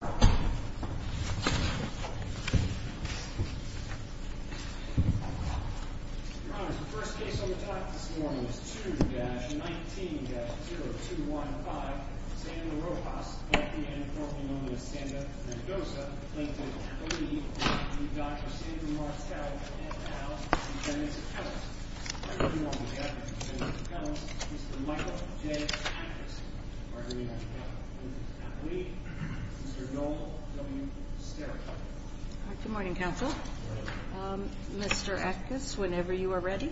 2-19-0215 Sandra Rojas v. Sandra Mendoza v. Dr. Sandra Martell v. Lt. Col. Mr. Michael J. Ackes. Mr. Noel W. Stericot. Good morning, counsel. Mr. Ackes, whenever you are ready.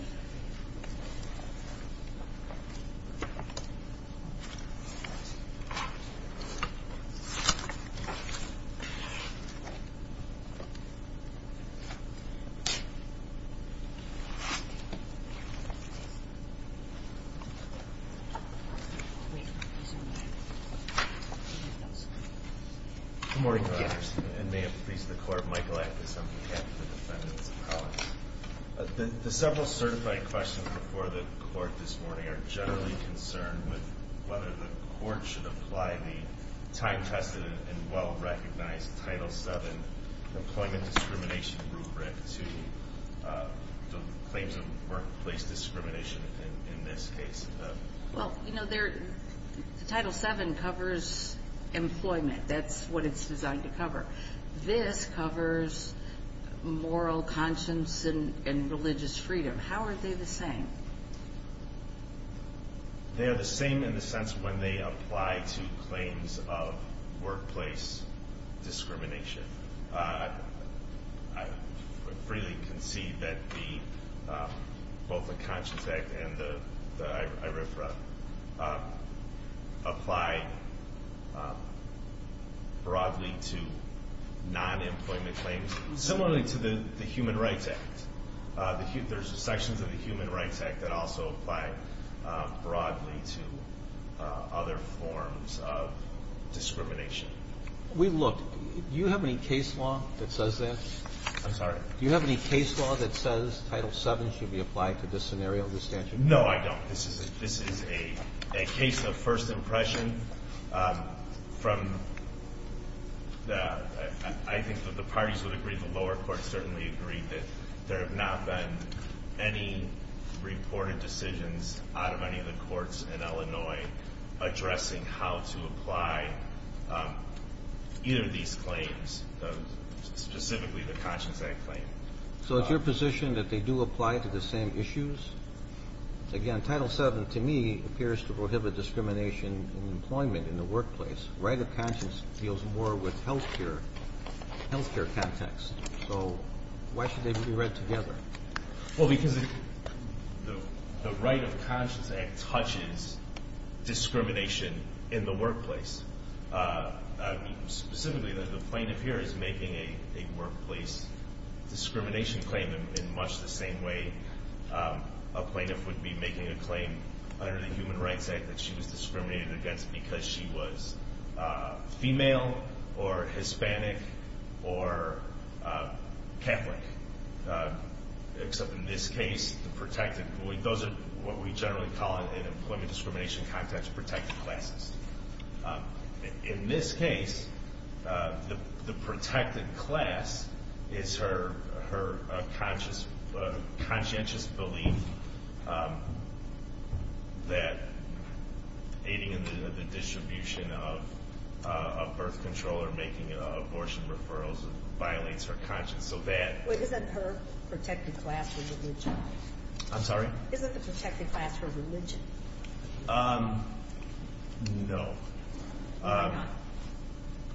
Good morning, Mr. Anderson. And may it please the Court, Michael Ackes, on behalf of the defendants and colleagues. The several certified questions before the Court this morning are generally concerned with whether the Court should apply the time-tested and well-recognized Title VII employment discrimination rubric to the claims of workplace discrimination in this case. Well, you know, the Title VII covers employment. That's what it's designed to cover. This covers moral conscience and religious freedom. How are they the same? They are the same in the sense when they apply to claims of workplace discrimination. I freely concede that both the Conscience Act and the IRFRA apply broadly to non-employment claims, similarly to the Human Rights Act. There's sections of the Human Rights Act that also apply broadly to other forms of discrimination. Do you have any case law that says that? I'm sorry? Do you have any case law that says Title VII should be applied to this scenario, this statute? No, I don't. This is a case of first impression from the – I think that the parties would agree, the lower courts certainly agree, that there have not been any reported decisions out of any of the courts in Illinois addressing how to apply either of these claims, specifically the Conscience Act claim. So it's your position that they do apply to the same issues? Again, Title VII to me appears to prohibit discrimination in employment in the workplace. Right of Conscience deals more with health care context. So why should they be read together? Well, because the Right of Conscience Act touches discrimination in the workplace. Specifically, the plaintiff here is making a workplace discrimination claim in much the same way a plaintiff would be making a claim under the Human Rights Act that she was discriminated against because she was female or Hispanic or Catholic, except in this case, the protected – in this case, the protected class is her conscientious belief that aiding in the distribution of birth control or making abortion referrals violates her conscience, so that – Wait, isn't her protected class her religion? I'm sorry? Isn't the protected class her religion? No.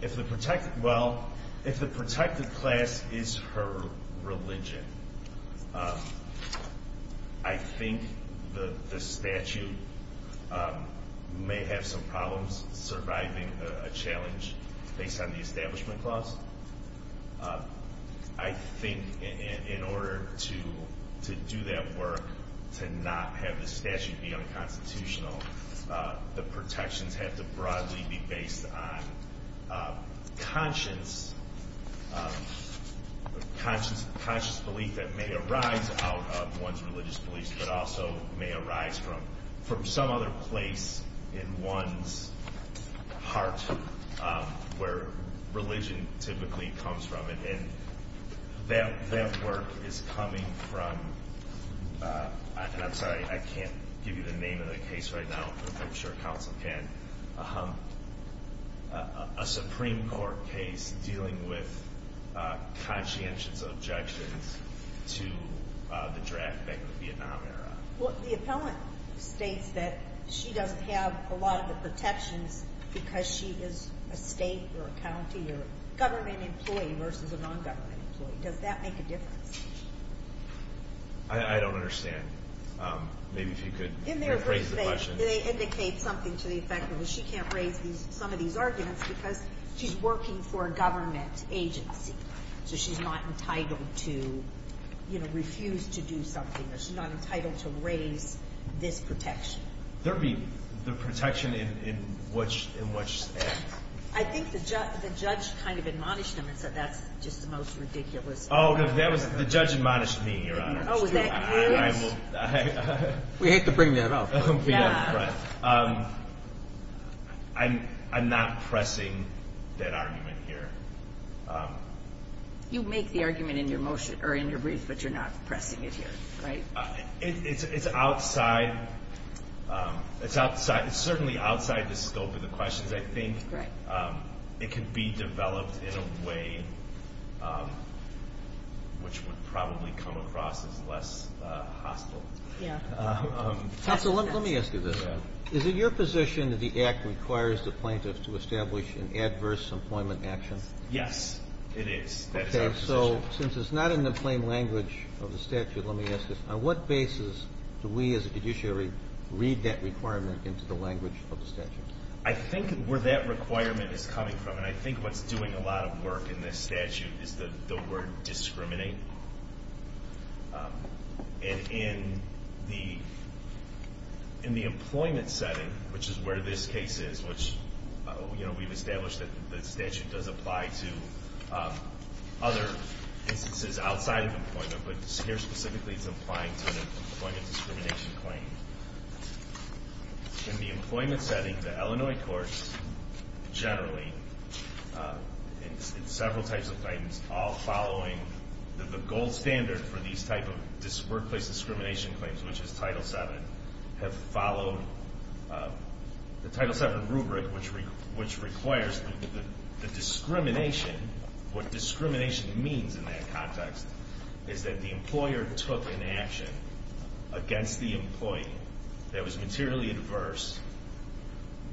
If the protected – well, if the protected class is her religion, I think the statute may have some problems surviving a challenge based on the Establishment Clause. I think in order to do that work, to not have the statute be unconstitutional, the protections have to broadly be based on conscience, conscious belief that may arise out of one's religious beliefs, but also may arise from some other place in one's heart where religion typically comes from. And that work is coming from – and I'm sorry, I can't give you the name of the case right now, but I'm sure counsel can – a Supreme Court case dealing with conscientious objections to the draft back in the Vietnam era. Well, the appellant states that she doesn't have a lot of the protections because she is a state or a county or a government employee versus a nongovernment employee. Does that make a difference? I don't understand. Maybe if you could raise the question. They indicate something to the effect that she can't raise some of these arguments because she's working for this protection. There'd be the protection in which act? I think the judge kind of admonished them and said that's just the most ridiculous argument. Oh, the judge admonished me, Your Honor. Oh, was that you? We hate to bring that up. I'm not pressing that argument here. You make the argument in your brief, but you're not pressing it here, right? It's outside – it's certainly outside the scope of the questions, I think. Right. It can be developed in a way which would probably come across as less hostile. Yeah. Counsel, let me ask you this. Yeah. Is it your position that the act requires the plaintiff to establish an adverse employment action? Yes, it is. That is our position. So since it's not in the plain language of the statute, let me ask this. On what basis do we as a judiciary read that requirement into the language of the statute? I think where that requirement is coming from, and I think what's doing a lot of work in this statute, is the word discriminate. And in the employment setting, which is where this case is, we've established that the statute does apply to other instances outside of employment, but here specifically it's applying to an employment discrimination claim. In the employment setting, the Illinois courts generally, in several types of guidance, all following the gold standard for these type of workplace discrimination claims, which is Title VII, have followed the Title VII rubric, which requires the discrimination. What discrimination means in that context is that the employer took an action against the employee that was materially adverse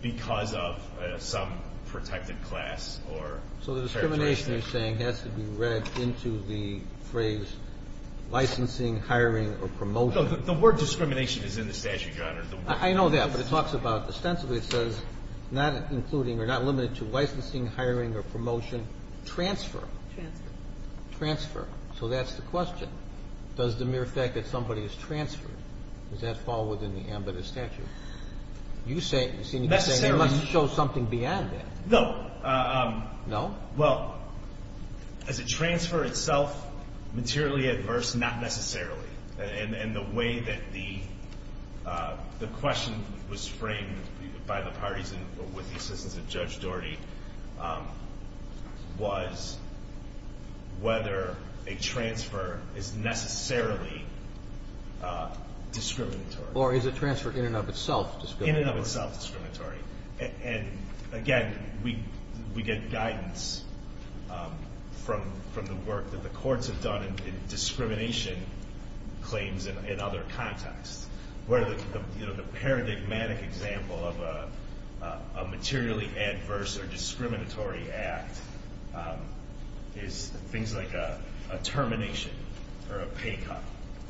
because of some protected class or characteristic. So the discrimination, you're saying, has to be read into the phrase licensing, hiring, or promotion. The word discrimination is in the statute, Your Honor. I know that, but it talks about, ostensibly it says, not including or not limited to licensing, hiring, or promotion, transfer. Transfer. Transfer. So that's the question. Does the mere fact that somebody is transferred, does that fall within the ambit of the statute? You say, you seem to be saying it must show something beyond that. No. No? Well, is a transfer itself materially adverse? Not necessarily. And the way that the question was framed by the parties with the assistance of Judge Doherty was whether a transfer is necessarily discriminatory. Or is a transfer in and of itself discriminatory? In and of itself discriminatory. And, again, we get guidance from the work that the courts have done in discrimination claims in other contexts. Where the paradigmatic example of a materially adverse or discriminatory act is things like a termination or a pay cut,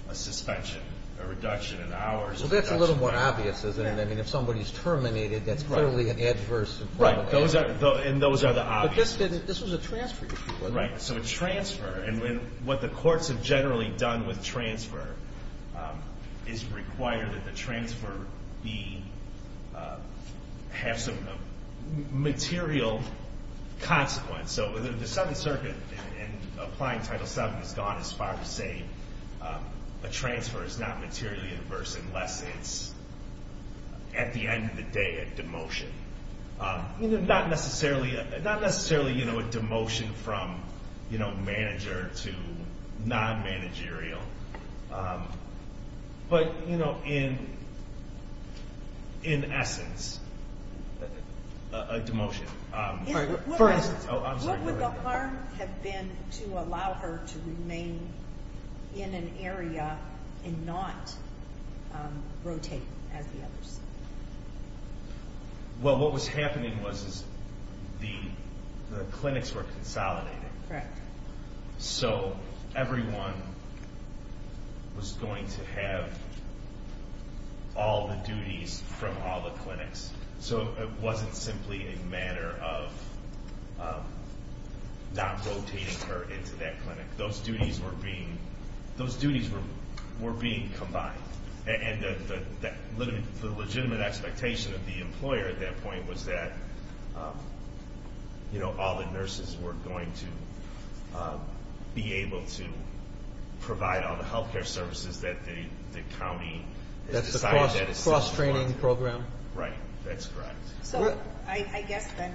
a suspension, a reduction in hours. Well, that's a little more obvious, isn't it? I mean, if somebody is terminated, that's clearly an adverse act. Right. And those are the obvious. But this was a transfer issue, wasn't it? Right. So a transfer. And what the courts have generally done with transfer is require that the transfer have some material consequence. So the Seventh Circuit, in applying Title VII, has gone as far as saying a transfer is not materially adverse unless it's, at the end of the day, a demotion. Not necessarily a demotion from manager to non-managerial. But, in essence, a demotion. For instance. What would the harm have been to allow her to remain in an area and not rotate as the others? Well, what was happening was the clinics were consolidated. Correct. So everyone was going to have all the duties from all the clinics. So it wasn't simply a matter of not rotating her into that clinic. Those duties were being combined. And the legitimate expectation of the employer at that point was that all the nurses were going to be able to provide all the health care services Right. That's correct. So I guess then,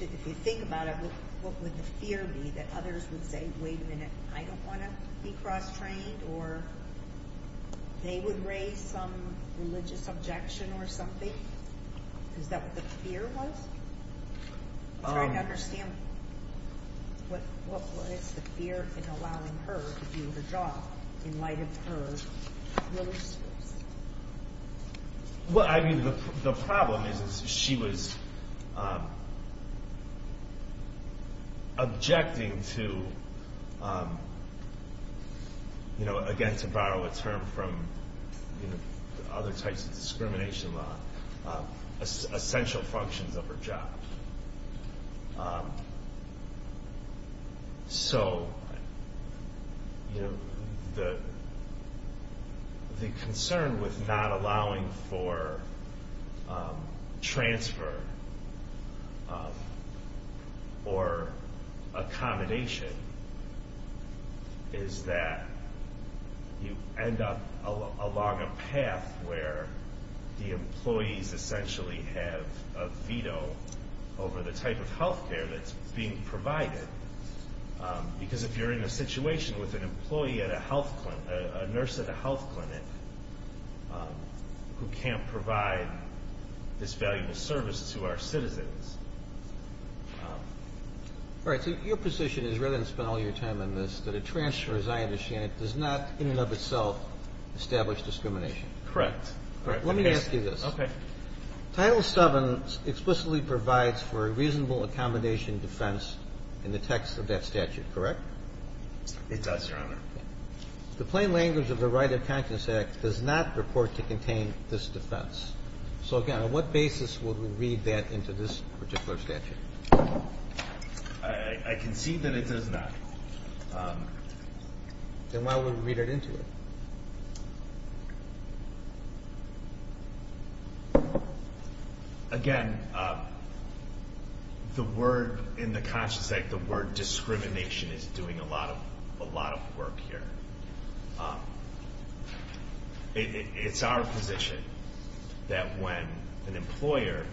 if you think about it, what would the fear be that others would say, wait a minute, I don't want to be cross-trained, or they would raise some religious objection or something? Is that what the fear was? I'm trying to understand what was the fear in allowing her to do her job in light of her religious beliefs? Well, I mean, the problem is she was objecting to, again, to borrow a term from other types of discrimination law, essential functions of her job. So the concern with not allowing for transfer or accommodation is that you end up along a path where the employees essentially have a veto over the type of health care that's being provided, because if you're in a situation with an employee at a health clinic, a nurse at a health clinic who can't provide this valuable service to our citizens. All right. So your position is, rather than spend all your time on this, that a transfer, as I understand it, does not in and of itself establish discrimination. Correct. Let me ask you this. Okay. Title VII explicitly provides for a reasonable accommodation defense in the text of that statute, correct? It does, Your Honor. The plain language of the Right of Conscience Act does not report to contain this defense. So, again, on what basis would we read that into this particular statute? I concede that it does not. Then why would we read it into it? Again, the word in the Conscience Act, the word discrimination, is doing a lot of work here. It's our position that when an employer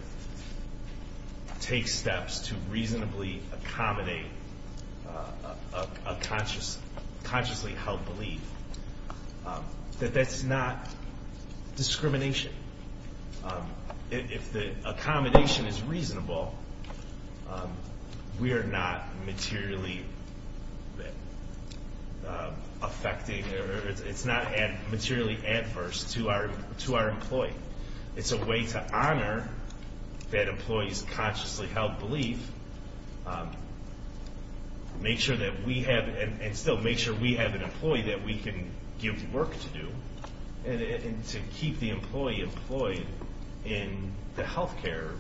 takes steps to reasonably accommodate a consciously held belief, that that's not discrimination. If the accommodation is reasonable, we are not materially affecting or it's not materially adverse to our employee. It's a way to honor that employee's consciously held belief, and still make sure we have an employee that we can give work to do and to keep the employee employed in the health care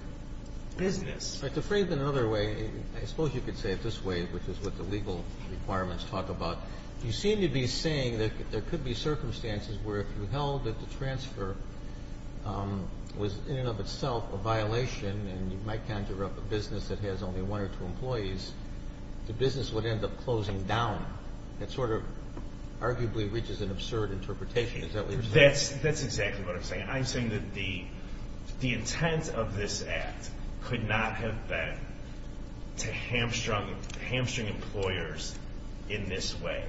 business. But to phrase it another way, I suppose you could say it this way, which is what the legal requirements talk about. You seem to be saying that there could be circumstances where if you held that the transfer was, in and of itself, a violation, and you might conjure up a business that has only one or two employees, the business would end up closing down. That sort of arguably reaches an absurd interpretation. Is that what you're saying? That's exactly what I'm saying. I'm saying that the intent of this act could not have been to hamstring employers in this way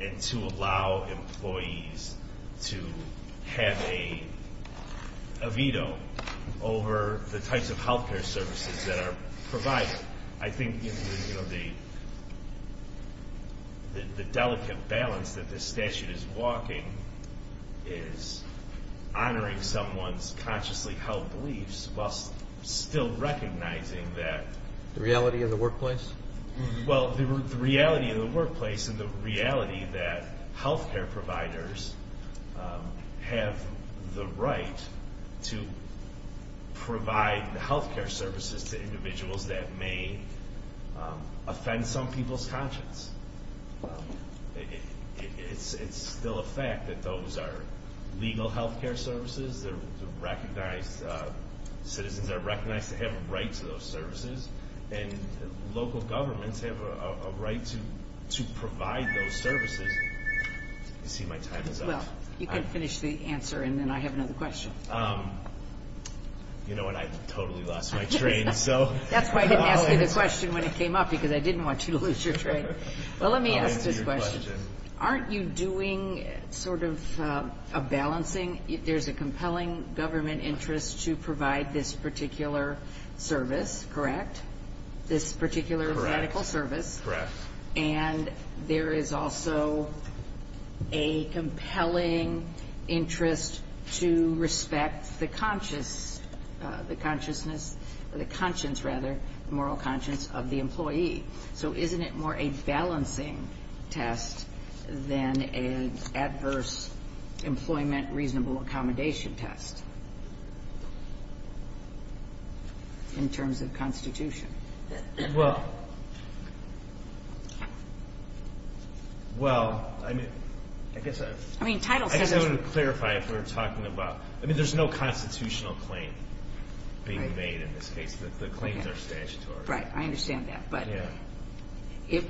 and to allow employees to have a veto over the types of health care services that are provided. I think the delicate balance that this statute is walking is honoring someone's consciously held beliefs while still recognizing that... The reality of the workplace? Well, the reality of the workplace and the reality that health care providers have the right to provide health care services to individuals that may offend some people's conscience. It's still a fact that those are legal health care services. Citizens are recognized to have a right to those services. And local governments have a right to provide those services. You see, my time is up. You can finish the answer, and then I have another question. You know what? I totally lost my train. That's why I didn't ask you the question when it came up, because I didn't want you to lose your train. Well, let me ask this question. Aren't you doing sort of a balancing? There's a compelling government interest to provide this particular service, correct? This particular medical service. Correct. And there is also a compelling interest to respect the consciousness or the conscience, rather, the moral conscience of the employee. So isn't it more a balancing test than an adverse employment reasonable accommodation test in terms of constitution? Well, I guess I want to clarify if we're talking about, I mean, there's no constitutional claim being made in this case. The claims are statutory. Right. I understand that. But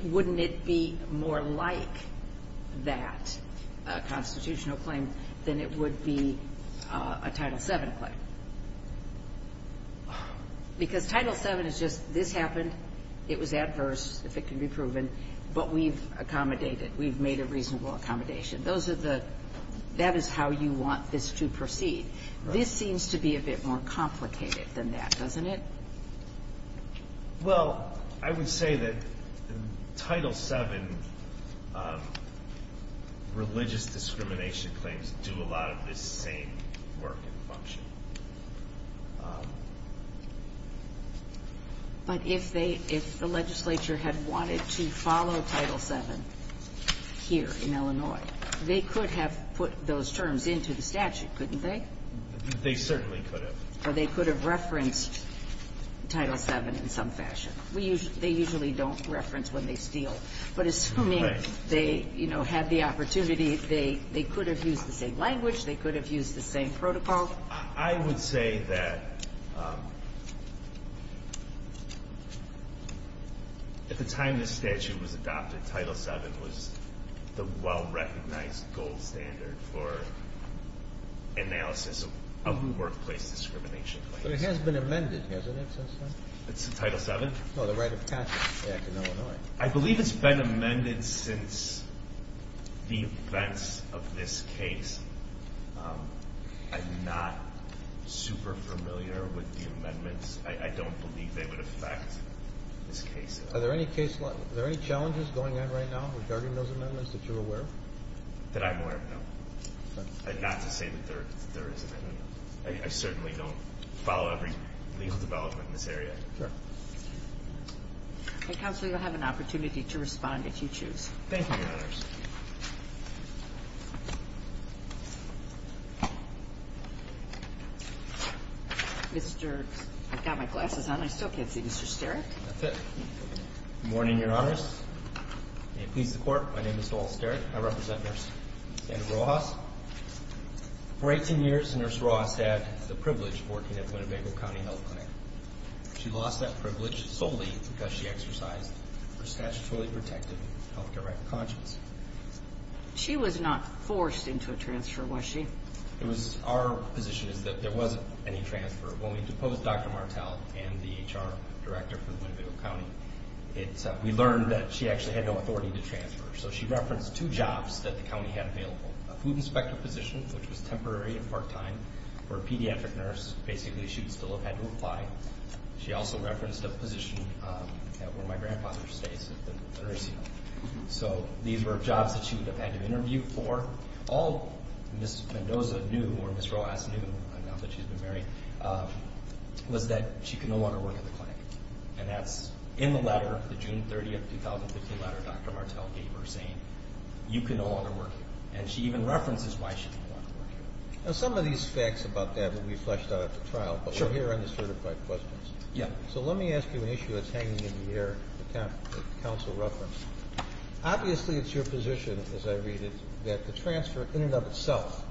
wouldn't it be more like that constitutional claim than it would be a Title VII claim? Because Title VII is just this happened, it was adverse, if it can be proven, but we've accommodated. We've made a reasonable accommodation. That is how you want this to proceed. This seems to be a bit more complicated than that, doesn't it? Well, I would say that Title VII religious discrimination claims do a lot of the same work and function. But if the legislature had wanted to follow Title VII here in Illinois, they could have put those terms into the statute, couldn't they? They certainly could have. Or they could have referenced Title VII in some fashion. They usually don't reference when they steal. But assuming they had the opportunity, they could have used the same language, they could have used the same protocol. Well, I would say that at the time this statute was adopted, Title VII was the well-recognized gold standard for analysis of workplace discrimination claims. But it has been amended, hasn't it, since then? Since Title VII? No, the Right of Conscience Act in Illinois. I believe it's been amended since the events of this case. I'm not super familiar with the amendments. I don't believe they would affect this case. Are there any challenges going on right now regarding those amendments that you're aware of? That I'm aware of, no. Not to say that there isn't. I certainly don't follow every legal development in this area. Okay, Counselor, you'll have an opportunity to respond if you choose. Thank you, Your Honors. I've got my glasses on. I still can't see Mr. Steric. That's it. Good morning, Your Honors. May it please the Court, my name is Noel Steric. I represent Nurse Sandra Rojas. For 18 years, Nurse Rojas had the privilege of working at Winnebago County Health Clinic. She lost that privilege solely because she exercised her statutorily protected health care right of conscience. She was not forced into a transfer, was she? Our position is that there wasn't any transfer. When we deposed Dr. Martel and the HR director from Winnebago County, we learned that she actually had no authority to transfer. So she referenced two jobs that the county had available, a food inspector position, which was temporary and part-time, or a pediatric nurse. Basically, she would still have had to apply. She also referenced a position where my grandfather stays at the nursing home. So these were jobs that she would have had to interview for. All Ms. Mendoza knew, or Ms. Rojas knew, now that she's been married, was that she could no longer work at the clinic. And that's in the letter, the June 30, 2015 letter Dr. Martel gave her saying, you can no longer work here. And she even references why she can no longer work here. Now, some of these facts about that will be fleshed out at the trial. But we're here on the certified questions. So let me ask you an issue that's hanging in the air, the counsel referenced. Obviously, it's your position, as I read it, that the transfer in and of itself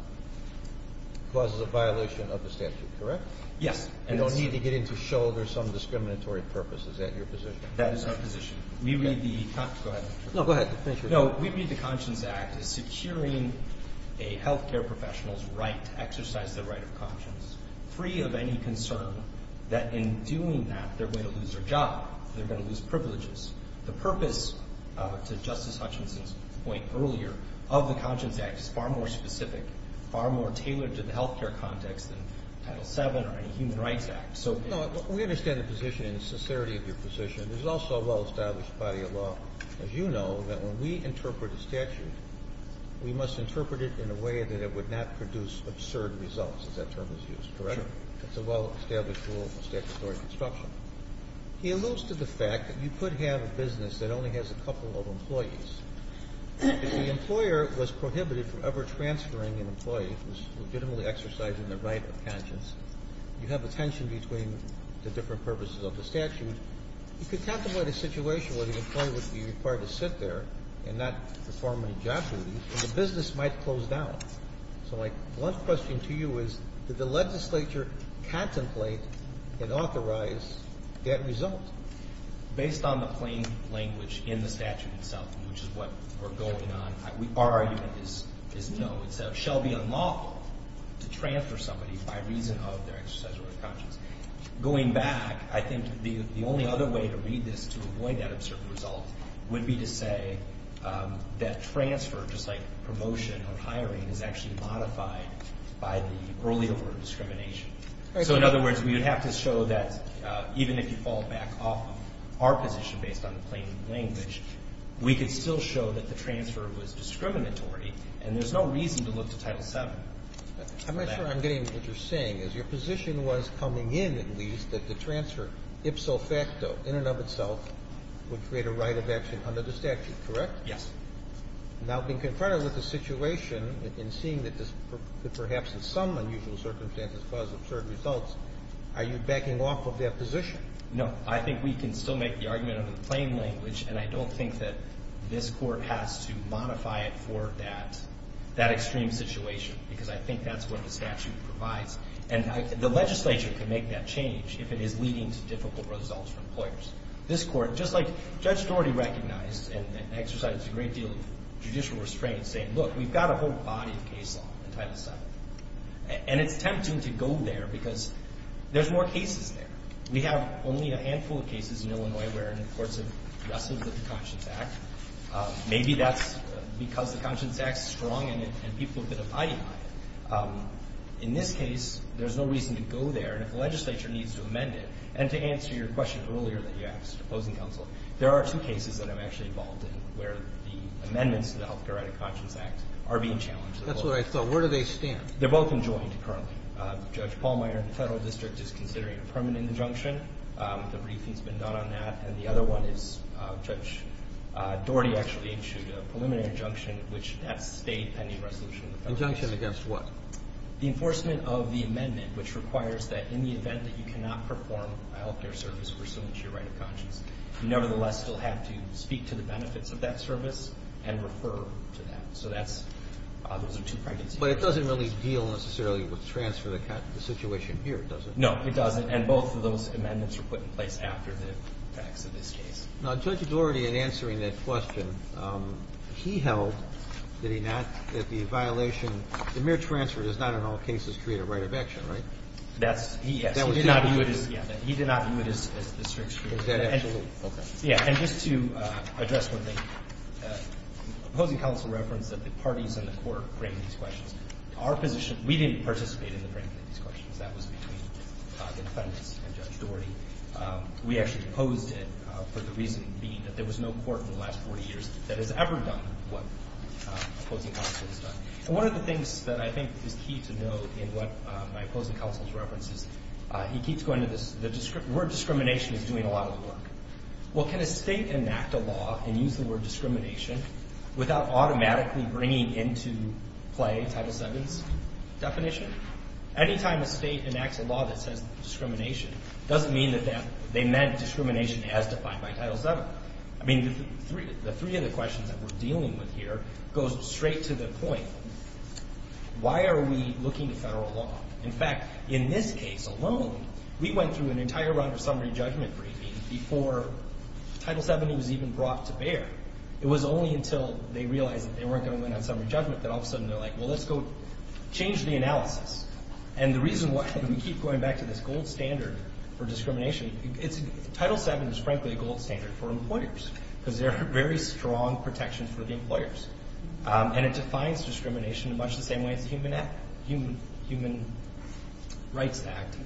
causes a violation of the statute, correct? Yes. And no need to get into show there's some discriminatory purpose. Is that your position? That is our position. We read the – go ahead. No, go ahead. No, we read the Conscience Act as securing a health care professional's right to exercise their right of conscience, free of any concern that in doing that they're going to lose their job, they're going to lose privileges. The purpose, to Justice Hutchinson's point earlier, of the Conscience Act, is far more specific, far more tailored to the health care context than Title VII or any human rights act. No, we understand the position and the sincerity of your position. There's also a well-established body of law, as you know, that when we interpret a statute, we must interpret it in a way that it would not produce absurd results, as that term is used, correct? Sure. It's a well-established rule of statutory construction. It alludes to the fact that you could have a business that only has a couple of employees. If the employer was prohibited from ever transferring an employee who's legitimately exercising their right of conscience, you have a tension between the different purposes of the statute. You could contemplate a situation where the employee would be required to sit there and not perform any job duties, and the business might close down. So my one question to you is, did the legislature contemplate and authorize that result? Based on the plain language in the statute itself, which is what we're going on, our argument is no. It shall be unlawful to transfer somebody by reason of their exercise of right of conscience. Going back, I think the only other way to read this to avoid that absurd result would be to say that transfer, just like promotion or hiring, is actually modified by the earlier word discrimination. So, in other words, we would have to show that, even if you fall back off of our position based on the plain language, we could still show that the transfer was discriminatory, and there's no reason to look to Title VII for that. I'm not sure I'm getting what you're saying. Is your position was coming in, at least, that the transfer, ipso facto, in and of itself, would create a right of action under the statute, correct? Yes. Now, being confronted with the situation and seeing that this could perhaps, in some unusual circumstances, cause absurd results, are you backing off of that position? No. I think we can still make the argument under the plain language, and I don't think that this Court has to modify it for that extreme situation because I think that's what the statute provides, and the legislature can make that change if it is leading to difficult results for employers. This Court, just like Judge Doherty recognized and exercised a great deal of judicial restraint, saying, look, we've got a whole body of case law in Title VII, and it's tempting to go there because there's more cases there. We have only a handful of cases in Illinois where courts have wrestled with the Conscience Act. Maybe that's because the Conscience Act is strong and people have been abiding by it. In this case, there's no reason to go there. And if the legislature needs to amend it, and to answer your question earlier that you asked, opposing counsel, there are some cases that I'm actually involved in where the amendments to the Health Care Act and Conscience Act are being challenged. That's what I thought. Where do they stand? They're both enjoined currently. Judge Pallmeyer in the Federal District is considering a permanent injunction. The briefing has been done on that. And the other one is Judge Doherty actually issued a preliminary injunction, which has stayed pending resolution in the Federal District. Injunction against what? The enforcement of the amendment, which requires that in the event that you cannot perform a health care service pursuant to your right of conscience, you nevertheless still have to speak to the benefits of that service and refer to that. So those are two pregnancy cases. But it doesn't really deal necessarily with transfer of the situation here, does it? No, it doesn't. And both of those amendments were put in place after the facts of this case. Now, Judge Doherty, in answering that question, he held that he not ñ that the violation ñ the mere transfer does not in all cases create a right of action, right? That's ñ yes. He did not view it as ñ yeah. He did not view it as a strict statute. Is that absolute? Okay. Yeah. And just to address one thing, opposing counsel referenced that the parties in the court bring these questions. Our position ñ we didn't participate in the bringing of these questions. That was between the defendants and Judge Doherty. We actually opposed it for the reason being that there was no court in the last 40 years that has ever done what opposing counsel has done. And one of the things that I think is key to note in what my opposing counsel's reference is, he keeps going to this ñ the word discrimination is doing a lot of the work. Well, can a state enact a law and use the word discrimination without automatically bringing into play Title VII's definition? Anytime a state enacts a law that says discrimination, it doesn't mean that they meant discrimination as defined by Title VII. I mean, the three other questions that we're dealing with here goes straight to the point, why are we looking to federal law? In fact, in this case alone, we went through an entire round of summary judgment briefing before Title VII was even brought to bear. It was only until they realized that they weren't going to win on summary judgment that all of a sudden they're like, well, let's go change the analysis. And the reason why we keep going back to this gold standard for discrimination, Title VII is frankly a gold standard for employers, because there are very strong protections for the employers. And it defines discrimination in much the same way as the Human Rights Act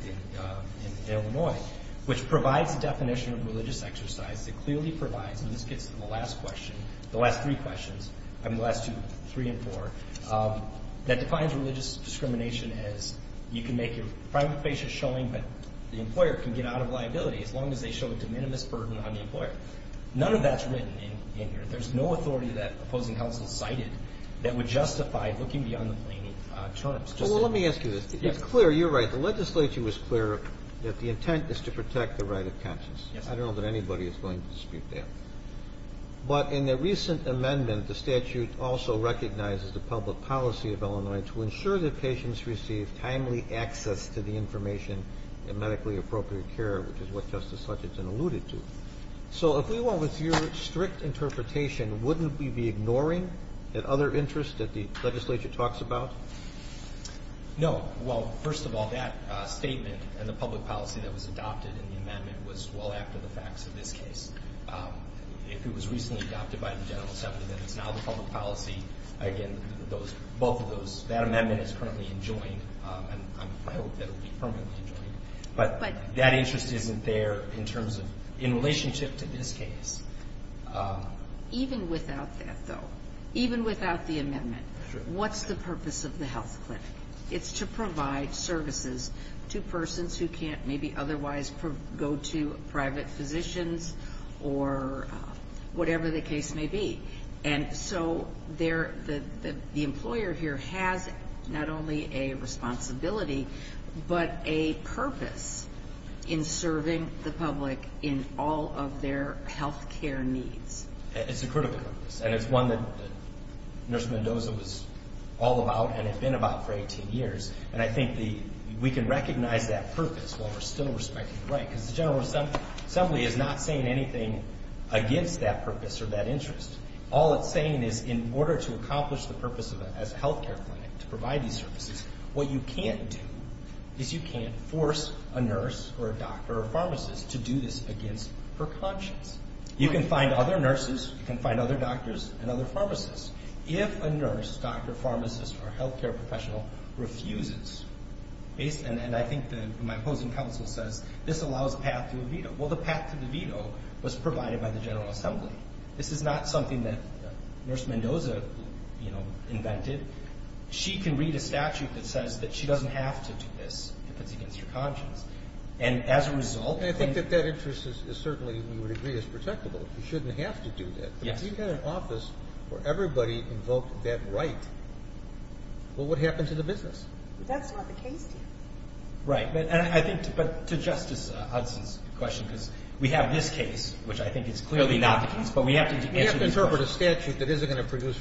in Illinois, which provides a definition of religious exercise that clearly provides, and this gets to the last question, the last three questions, I mean, the last two, three and four, that defines religious discrimination as you can make your private patient showing that the employer can get out of liability as long as they show a de minimis burden on the employer. None of that's written in here. There's no authority that opposing counsel cited that would justify looking beyond the plaintiff's terms. Well, let me ask you this. It's clear. You're right. The legislature was clear that the intent is to protect the right of conscience. I don't know that anybody is going to speak to that. But in the recent amendment, the statute also recognizes the public policy of Illinois to ensure that patients receive timely access to the information in medically appropriate care, which is what Justice Hutchinson alluded to. So if we went with your strict interpretation, wouldn't we be ignoring the other interests that the legislature talks about? No. Well, first of all, that statement and the public policy that was adopted in the amendment was well after the facts of this case. If it was recently adopted by the general assembly, then it's now the public policy. Again, both of those. That amendment is currently enjoined, and I hope that it will be permanently enjoined. But that interest isn't there in terms of in relationship to this case. Even without that, though, even without the amendment, what's the purpose of the health clinic? It's to provide services to persons who can't maybe otherwise go to private physicians or whatever the case may be. And so the employer here has not only a responsibility but a purpose in serving the public in all of their health care needs. It's a critical purpose, and it's one that Nurse Mendoza was all about and has been about for 18 years. And I think we can recognize that purpose while we're still respecting the right. Because the general assembly is not saying anything against that purpose or that interest. All it's saying is in order to accomplish the purpose as a health care clinic to provide these services, what you can't do is you can't force a nurse or a doctor or a pharmacist to do this against her conscience. You can find other nurses. You can find other doctors and other pharmacists. If a nurse, doctor, pharmacist, or health care professional refuses, and I think my opposing counsel says this allows a path to a veto. Well, the path to the veto was provided by the general assembly. This is not something that Nurse Mendoza invented. She can read a statute that says that she doesn't have to do this if it's against her conscience. And as a result, I think that that interest is certainly, we would agree, is protectable. You shouldn't have to do that. If you had an office where everybody invoked that right, well, what would happen to the business? That's not the case here. Right. And I think to Justice Hudson's question, because we have this case, which I think is clearly not the case, but we have to answer these questions. We have to interpret a statute that isn't going to produce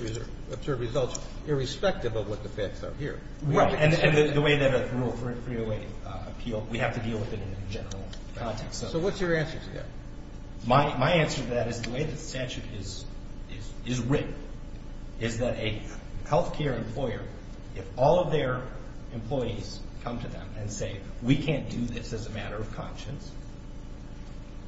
observed results irrespective of what the facts are here. Right. And the way that Rule 308 appealed, we have to deal with it in a general context. So what's your answer to that? My answer to that is the way the statute is written is that a health care employer, if all of their employees come to them and say, we can't do this as a matter of conscience,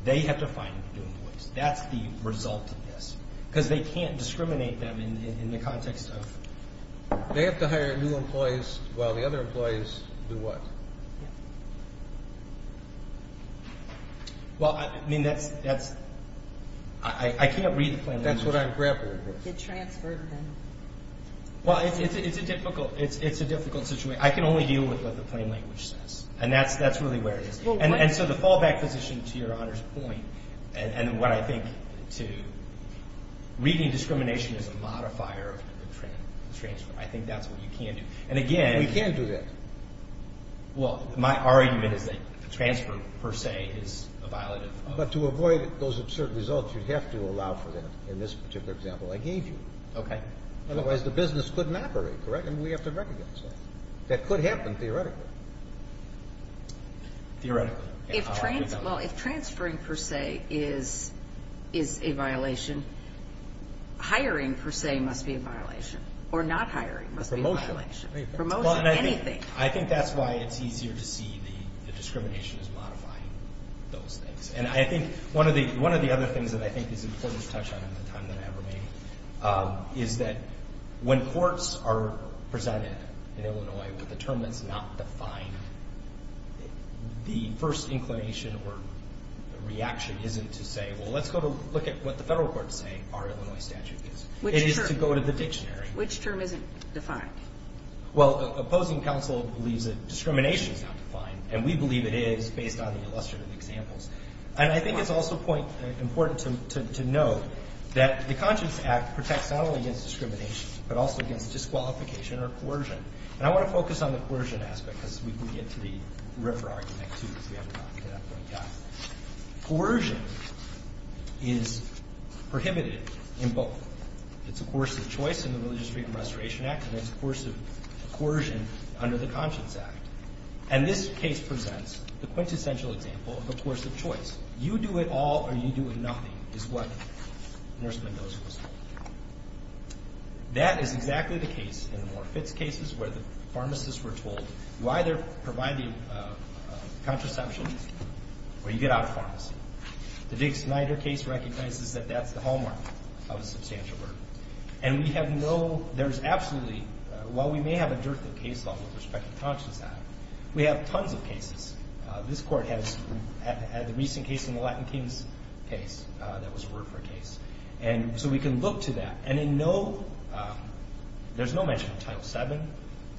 they have to find new employees. That's the result of this. Because they can't discriminate them in the context of... They have to hire new employees while the other employees do what? Yeah. Well, I mean, that's... I can't read the plan... That's what I'm grappling with. The transfer... Well, it's a difficult situation. I can only deal with what the plain language says, and that's really where it is. And so the fallback position, to Your Honor's point, and what I think to reading discrimination as a modifier of the transfer, I think that's what you can do. And again... We can do that. Well, my argument is that the transfer, per se, is a violative... Okay. Theoretically. Well, if transferring, per se, is a violation, hiring, per se, must be a violation. Or not hiring must be a violation. Promotion. Promotion, anything. I think that's why it's easier to see the discrimination as modifying those things. And I think one of the other things that I think is important to touch on in the time that I have remaining is that when courts are presented in Illinois with a term that's not defined, the first inclination or reaction isn't to say, well, let's go look at what the federal courts say our Illinois statute is. It is to go to the dictionary. Which term isn't defined? Well, opposing counsel believes that discrimination is not defined, and we believe it is based on the illustrative examples. And I think it's also important to note that the Conscience Act protects not only against discrimination but also against disqualification or coercion. And I want to focus on the coercion aspect because we can get to the Ripper argument, too, if we haven't gotten to that point yet. Coercion is prohibited in both. It's a coercive choice in the Religious Freedom and Restoration Act, and it's a coercive coercion under the Conscience Act. And this case presents the quintessential example of a coercive choice. You do it all or you do it nothing is what Nurse Mendoza was talking about. That is exactly the case in the Moore Fitz cases where the pharmacists were told you either provide the contraception or you get out of pharmacy. The Dick Snyder case recognizes that that's the hallmark of a substantial murder. And we have no ñ there's absolutely ñ while we may have a dearth of case law with respect to the Conscience Act, we have tons of cases. This Court has a recent case in the Latin Kings case that was referred for a case. And so we can look to that. And in no ñ there's no mention of Title VII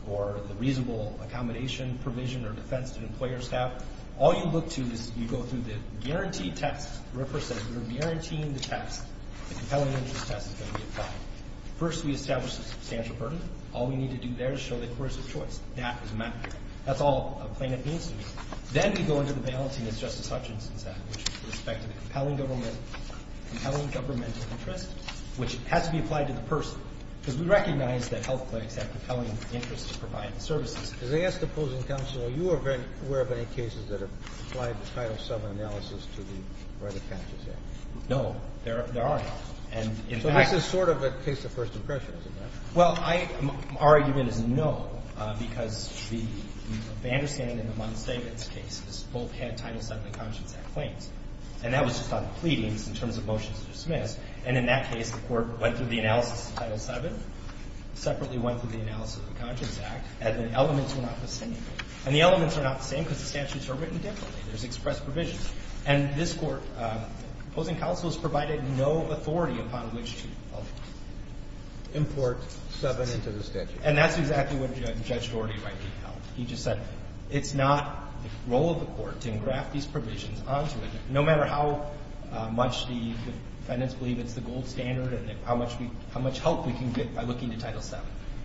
or the reasonable accommodation provision or defense that employers have. All you look to is you go through the guaranteed test. Ripper says we're guaranteeing the test. The compelling interest test is going to be applied. First, we establish the substantial burden. All we need to do there is show the coercive choice. That is a matter of fact. That's all a plaintiff needs to do. Then we go into the balancing as Justice Hutchinson said, which is with respect to the compelling government, compelling governmental interest, which has to be applied to the person. Because we recognize that health clinics have compelling interests to provide the services. As I ask the opposing counsel, are you aware of any cases that have applied the Title VII analysis to the ñ where the catch is at? No. There aren't. And in fact ñ So this is sort of a case of first impressions, isn't it? Well, I ñ our argument is no, because the ñ the understanding in the Munn statements case is both had Title VII and the Conscience Act claims. And that was just on pleadings in terms of motions to dismiss. And in that case, the Court went through the analysis of Title VII, separately went through the analysis of the Conscience Act, and the elements were not the same. And the elements are not the same because the statutes are written differently. There's expressed provisions. And this Court, opposing counsel, has provided no authority upon which to import VII into the statute. And that's exactly what Judge Doherty rightly held. He just said it's not the role of the Court to engraft these provisions onto it, no matter how much the defendants believe it's the gold standard and how much we ñ how much help we can get by looking to Title VII.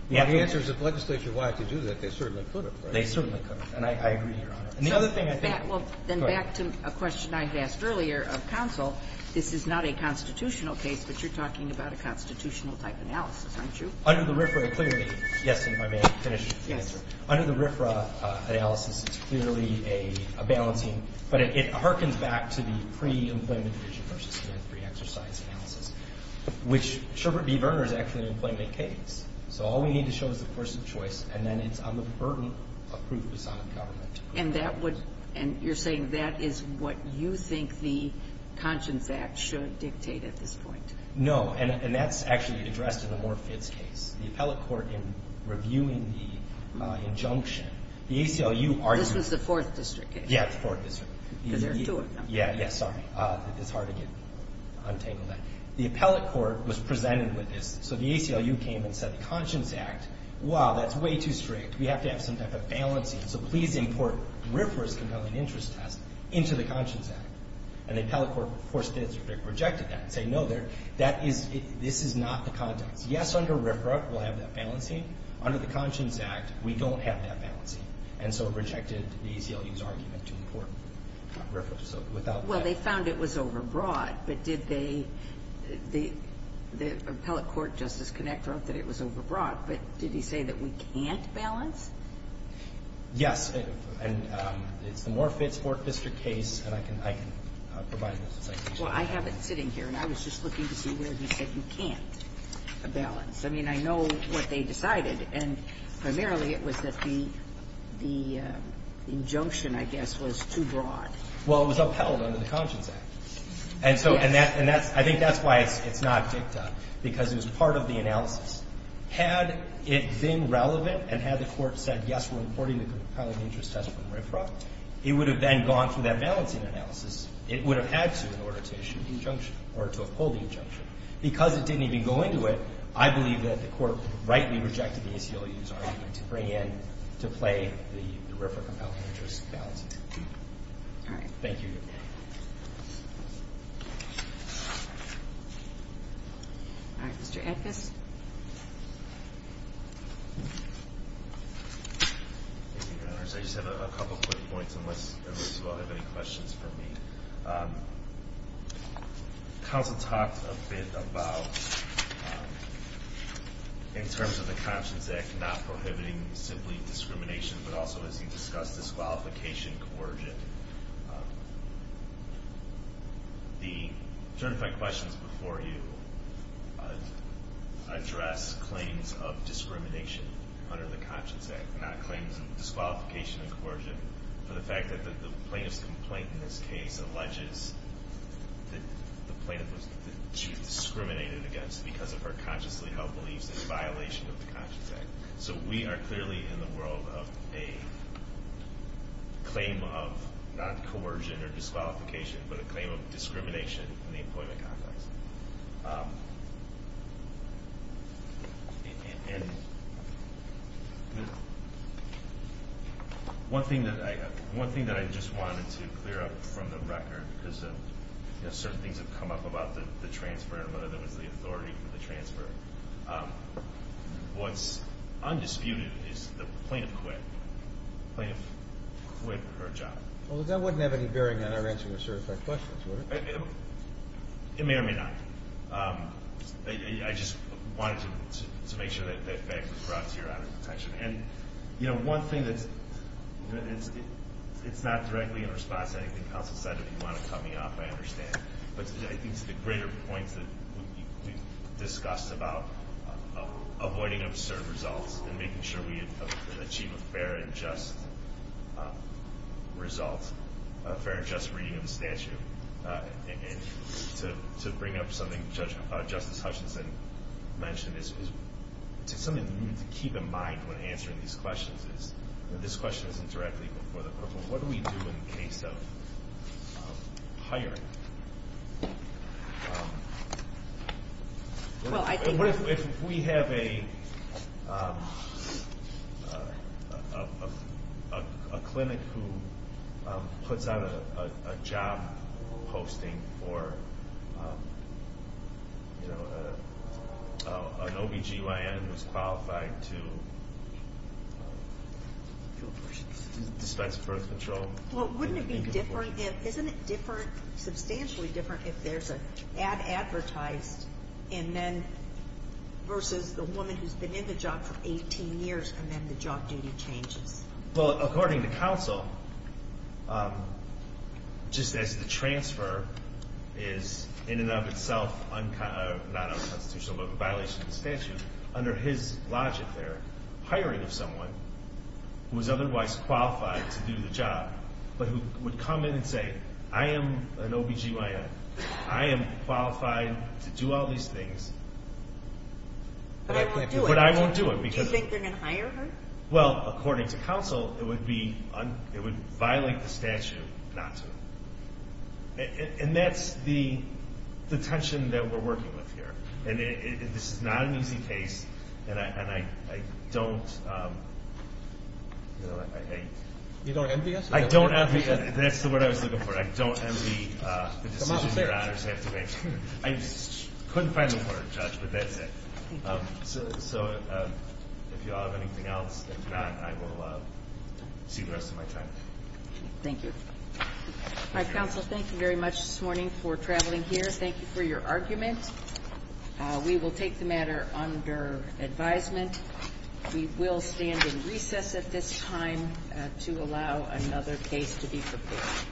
The answer is if legislature wanted to do that, they certainly could have, right? They certainly could. And I agree, Your Honor. And the other thing I think ñ Well, then back to a question I had asked earlier of counsel, this is not a constitutional case, but you're talking about a constitutional-type analysis, aren't you? Under the RFRA, clearly ñ yes, and if I may finish? Yes, sir. Under the RFRA analysis, it's clearly a balancing ñ but it harkens back to the pre-employment division versus pre-exercise analysis, which Sherbert v. Verner is actually an employment case. So all we need to show is the person of choice, and then it's on the burden of proof And that would ñ and you're saying that is what you think the Conscience Act should dictate at this point? No. And that's actually addressed in the Moore-Fitts case. The appellate court, in reviewing the injunction, the ACLU argued ñ This was the Fourth District case. Yeah, the Fourth District. Because there are two of them. Yeah, yeah. Sorry. It's hard to get ñ untangle that. The appellate court was presented with this. So the ACLU came and said the Conscience Act, wow, that's way too strict. We have to have some type of balancing. So please import RFRA's compelling interest test into the Conscience Act. And the appellate court, the Fourth District, rejected that and said, no, there ñ that is ñ this is not the context. Yes, under RFRA, we'll have that balancing. Under the Conscience Act, we don't have that balancing. And so it rejected the ACLU's argument to import RFRA. So without that ñ Well, they found it was overbroad. But did they ñ the appellate court, Justice Connector, that it was overbroad. But did he say that we can't balance? Yes. And it's the More Fitz, Fourth District case. And I can ñ I can provide those assignments. Well, I have it sitting here. And I was just looking to see where he said you can't balance. I mean, I know what they decided. And primarily, it was that the ñ the injunction, I guess, was too broad. Well, it was upheld under the Conscience Act. And so ñ and that ñ and that's ñ I think that's why it's not dicta. Because it was part of the analysis. Had it been relevant and had the court said, yes, we're importing the compelling interest test from RFRA, it would have then gone through that balancing analysis. It would have had to in order to issue the injunction or to uphold the injunction. Because it didn't even go into it, I believe that the court rightly rejected the ACLU's argument to bring in ñ to play the RFRA compelling interest balancing. All right. Thank you. All right. Mr. Anthus. Thank you, Your Honors. I just have a couple quick points, unless you all have any questions for me. Counsel talked a bit about, in terms of the Conscience Act, not prohibiting simply discrimination, but also, as he discussed, disqualification, coercion. The certified questions before you address claims of discrimination under the Conscience Act, not claims of disqualification and coercion, for the fact that the plaintiff's complaint in this case alleges that the plaintiff was ñ that she was discriminated against because of her consciously held beliefs in violation of the Conscience Act. So we are clearly in the world of a claim of not coercion or disqualification, but a claim of discrimination in the employment context. One thing that I just wanted to clear up from the record, because certain things have come up about the transfer, and whether there was the authority for the transfer, what's undisputed is the plaintiff quit. The plaintiff quit her job. Well, that wouldn't have any bearing on our answering the certified questions, would it? It may or may not. I just wanted to make sure that that fact was brought to Your Honor's attention. And, you know, one thing that's ñ it's not directly in response to anything Counsel said. If you want to cut me off, I understand. But I think to the greater point that we've discussed about avoiding absurd results and making sure we achieve a fair and just result, a fair and just reading of the statute, to bring up something Justice Hutchinson mentioned, it's something you need to keep in mind when answering these questions. This question isn't directly before the court, but what do we do in the case of hiring? What if we have a clinic who puts out a job posting for an OB-GYN who's qualified to dispense birth control? Well, wouldn't it be different if ñ isn't it different, substantially different, if there's an ad advertised versus the woman who's been in the job for 18 years and then the job duty changes? Well, according to Counsel, just as the transfer is in and of itself not unconstitutional but a violation of the statute, under his logic there, hiring of someone who is otherwise qualified to do the job but who would come in and say, I am an OB-GYN, I am qualified to do all these things. But I won't do it. But I won't do it because ñ Do you think they're going to hire her? Well, according to Counsel, it would violate the statute not to. And that's the tension that we're working with here. And this is not an easy case, and I don't ñ You don't envy us? I don't envy ñ that's what I was looking for. I don't envy the decision your honors have to make. I couldn't find the word, Judge, but that's it. So if you all have anything else, if not, I will see the rest of my time. Thank you. All right, Counsel, thank you very much this morning for traveling here. Thank you for your argument. We will take the matter under advisement. We will stand in recess at this time to allow another case to be prepared.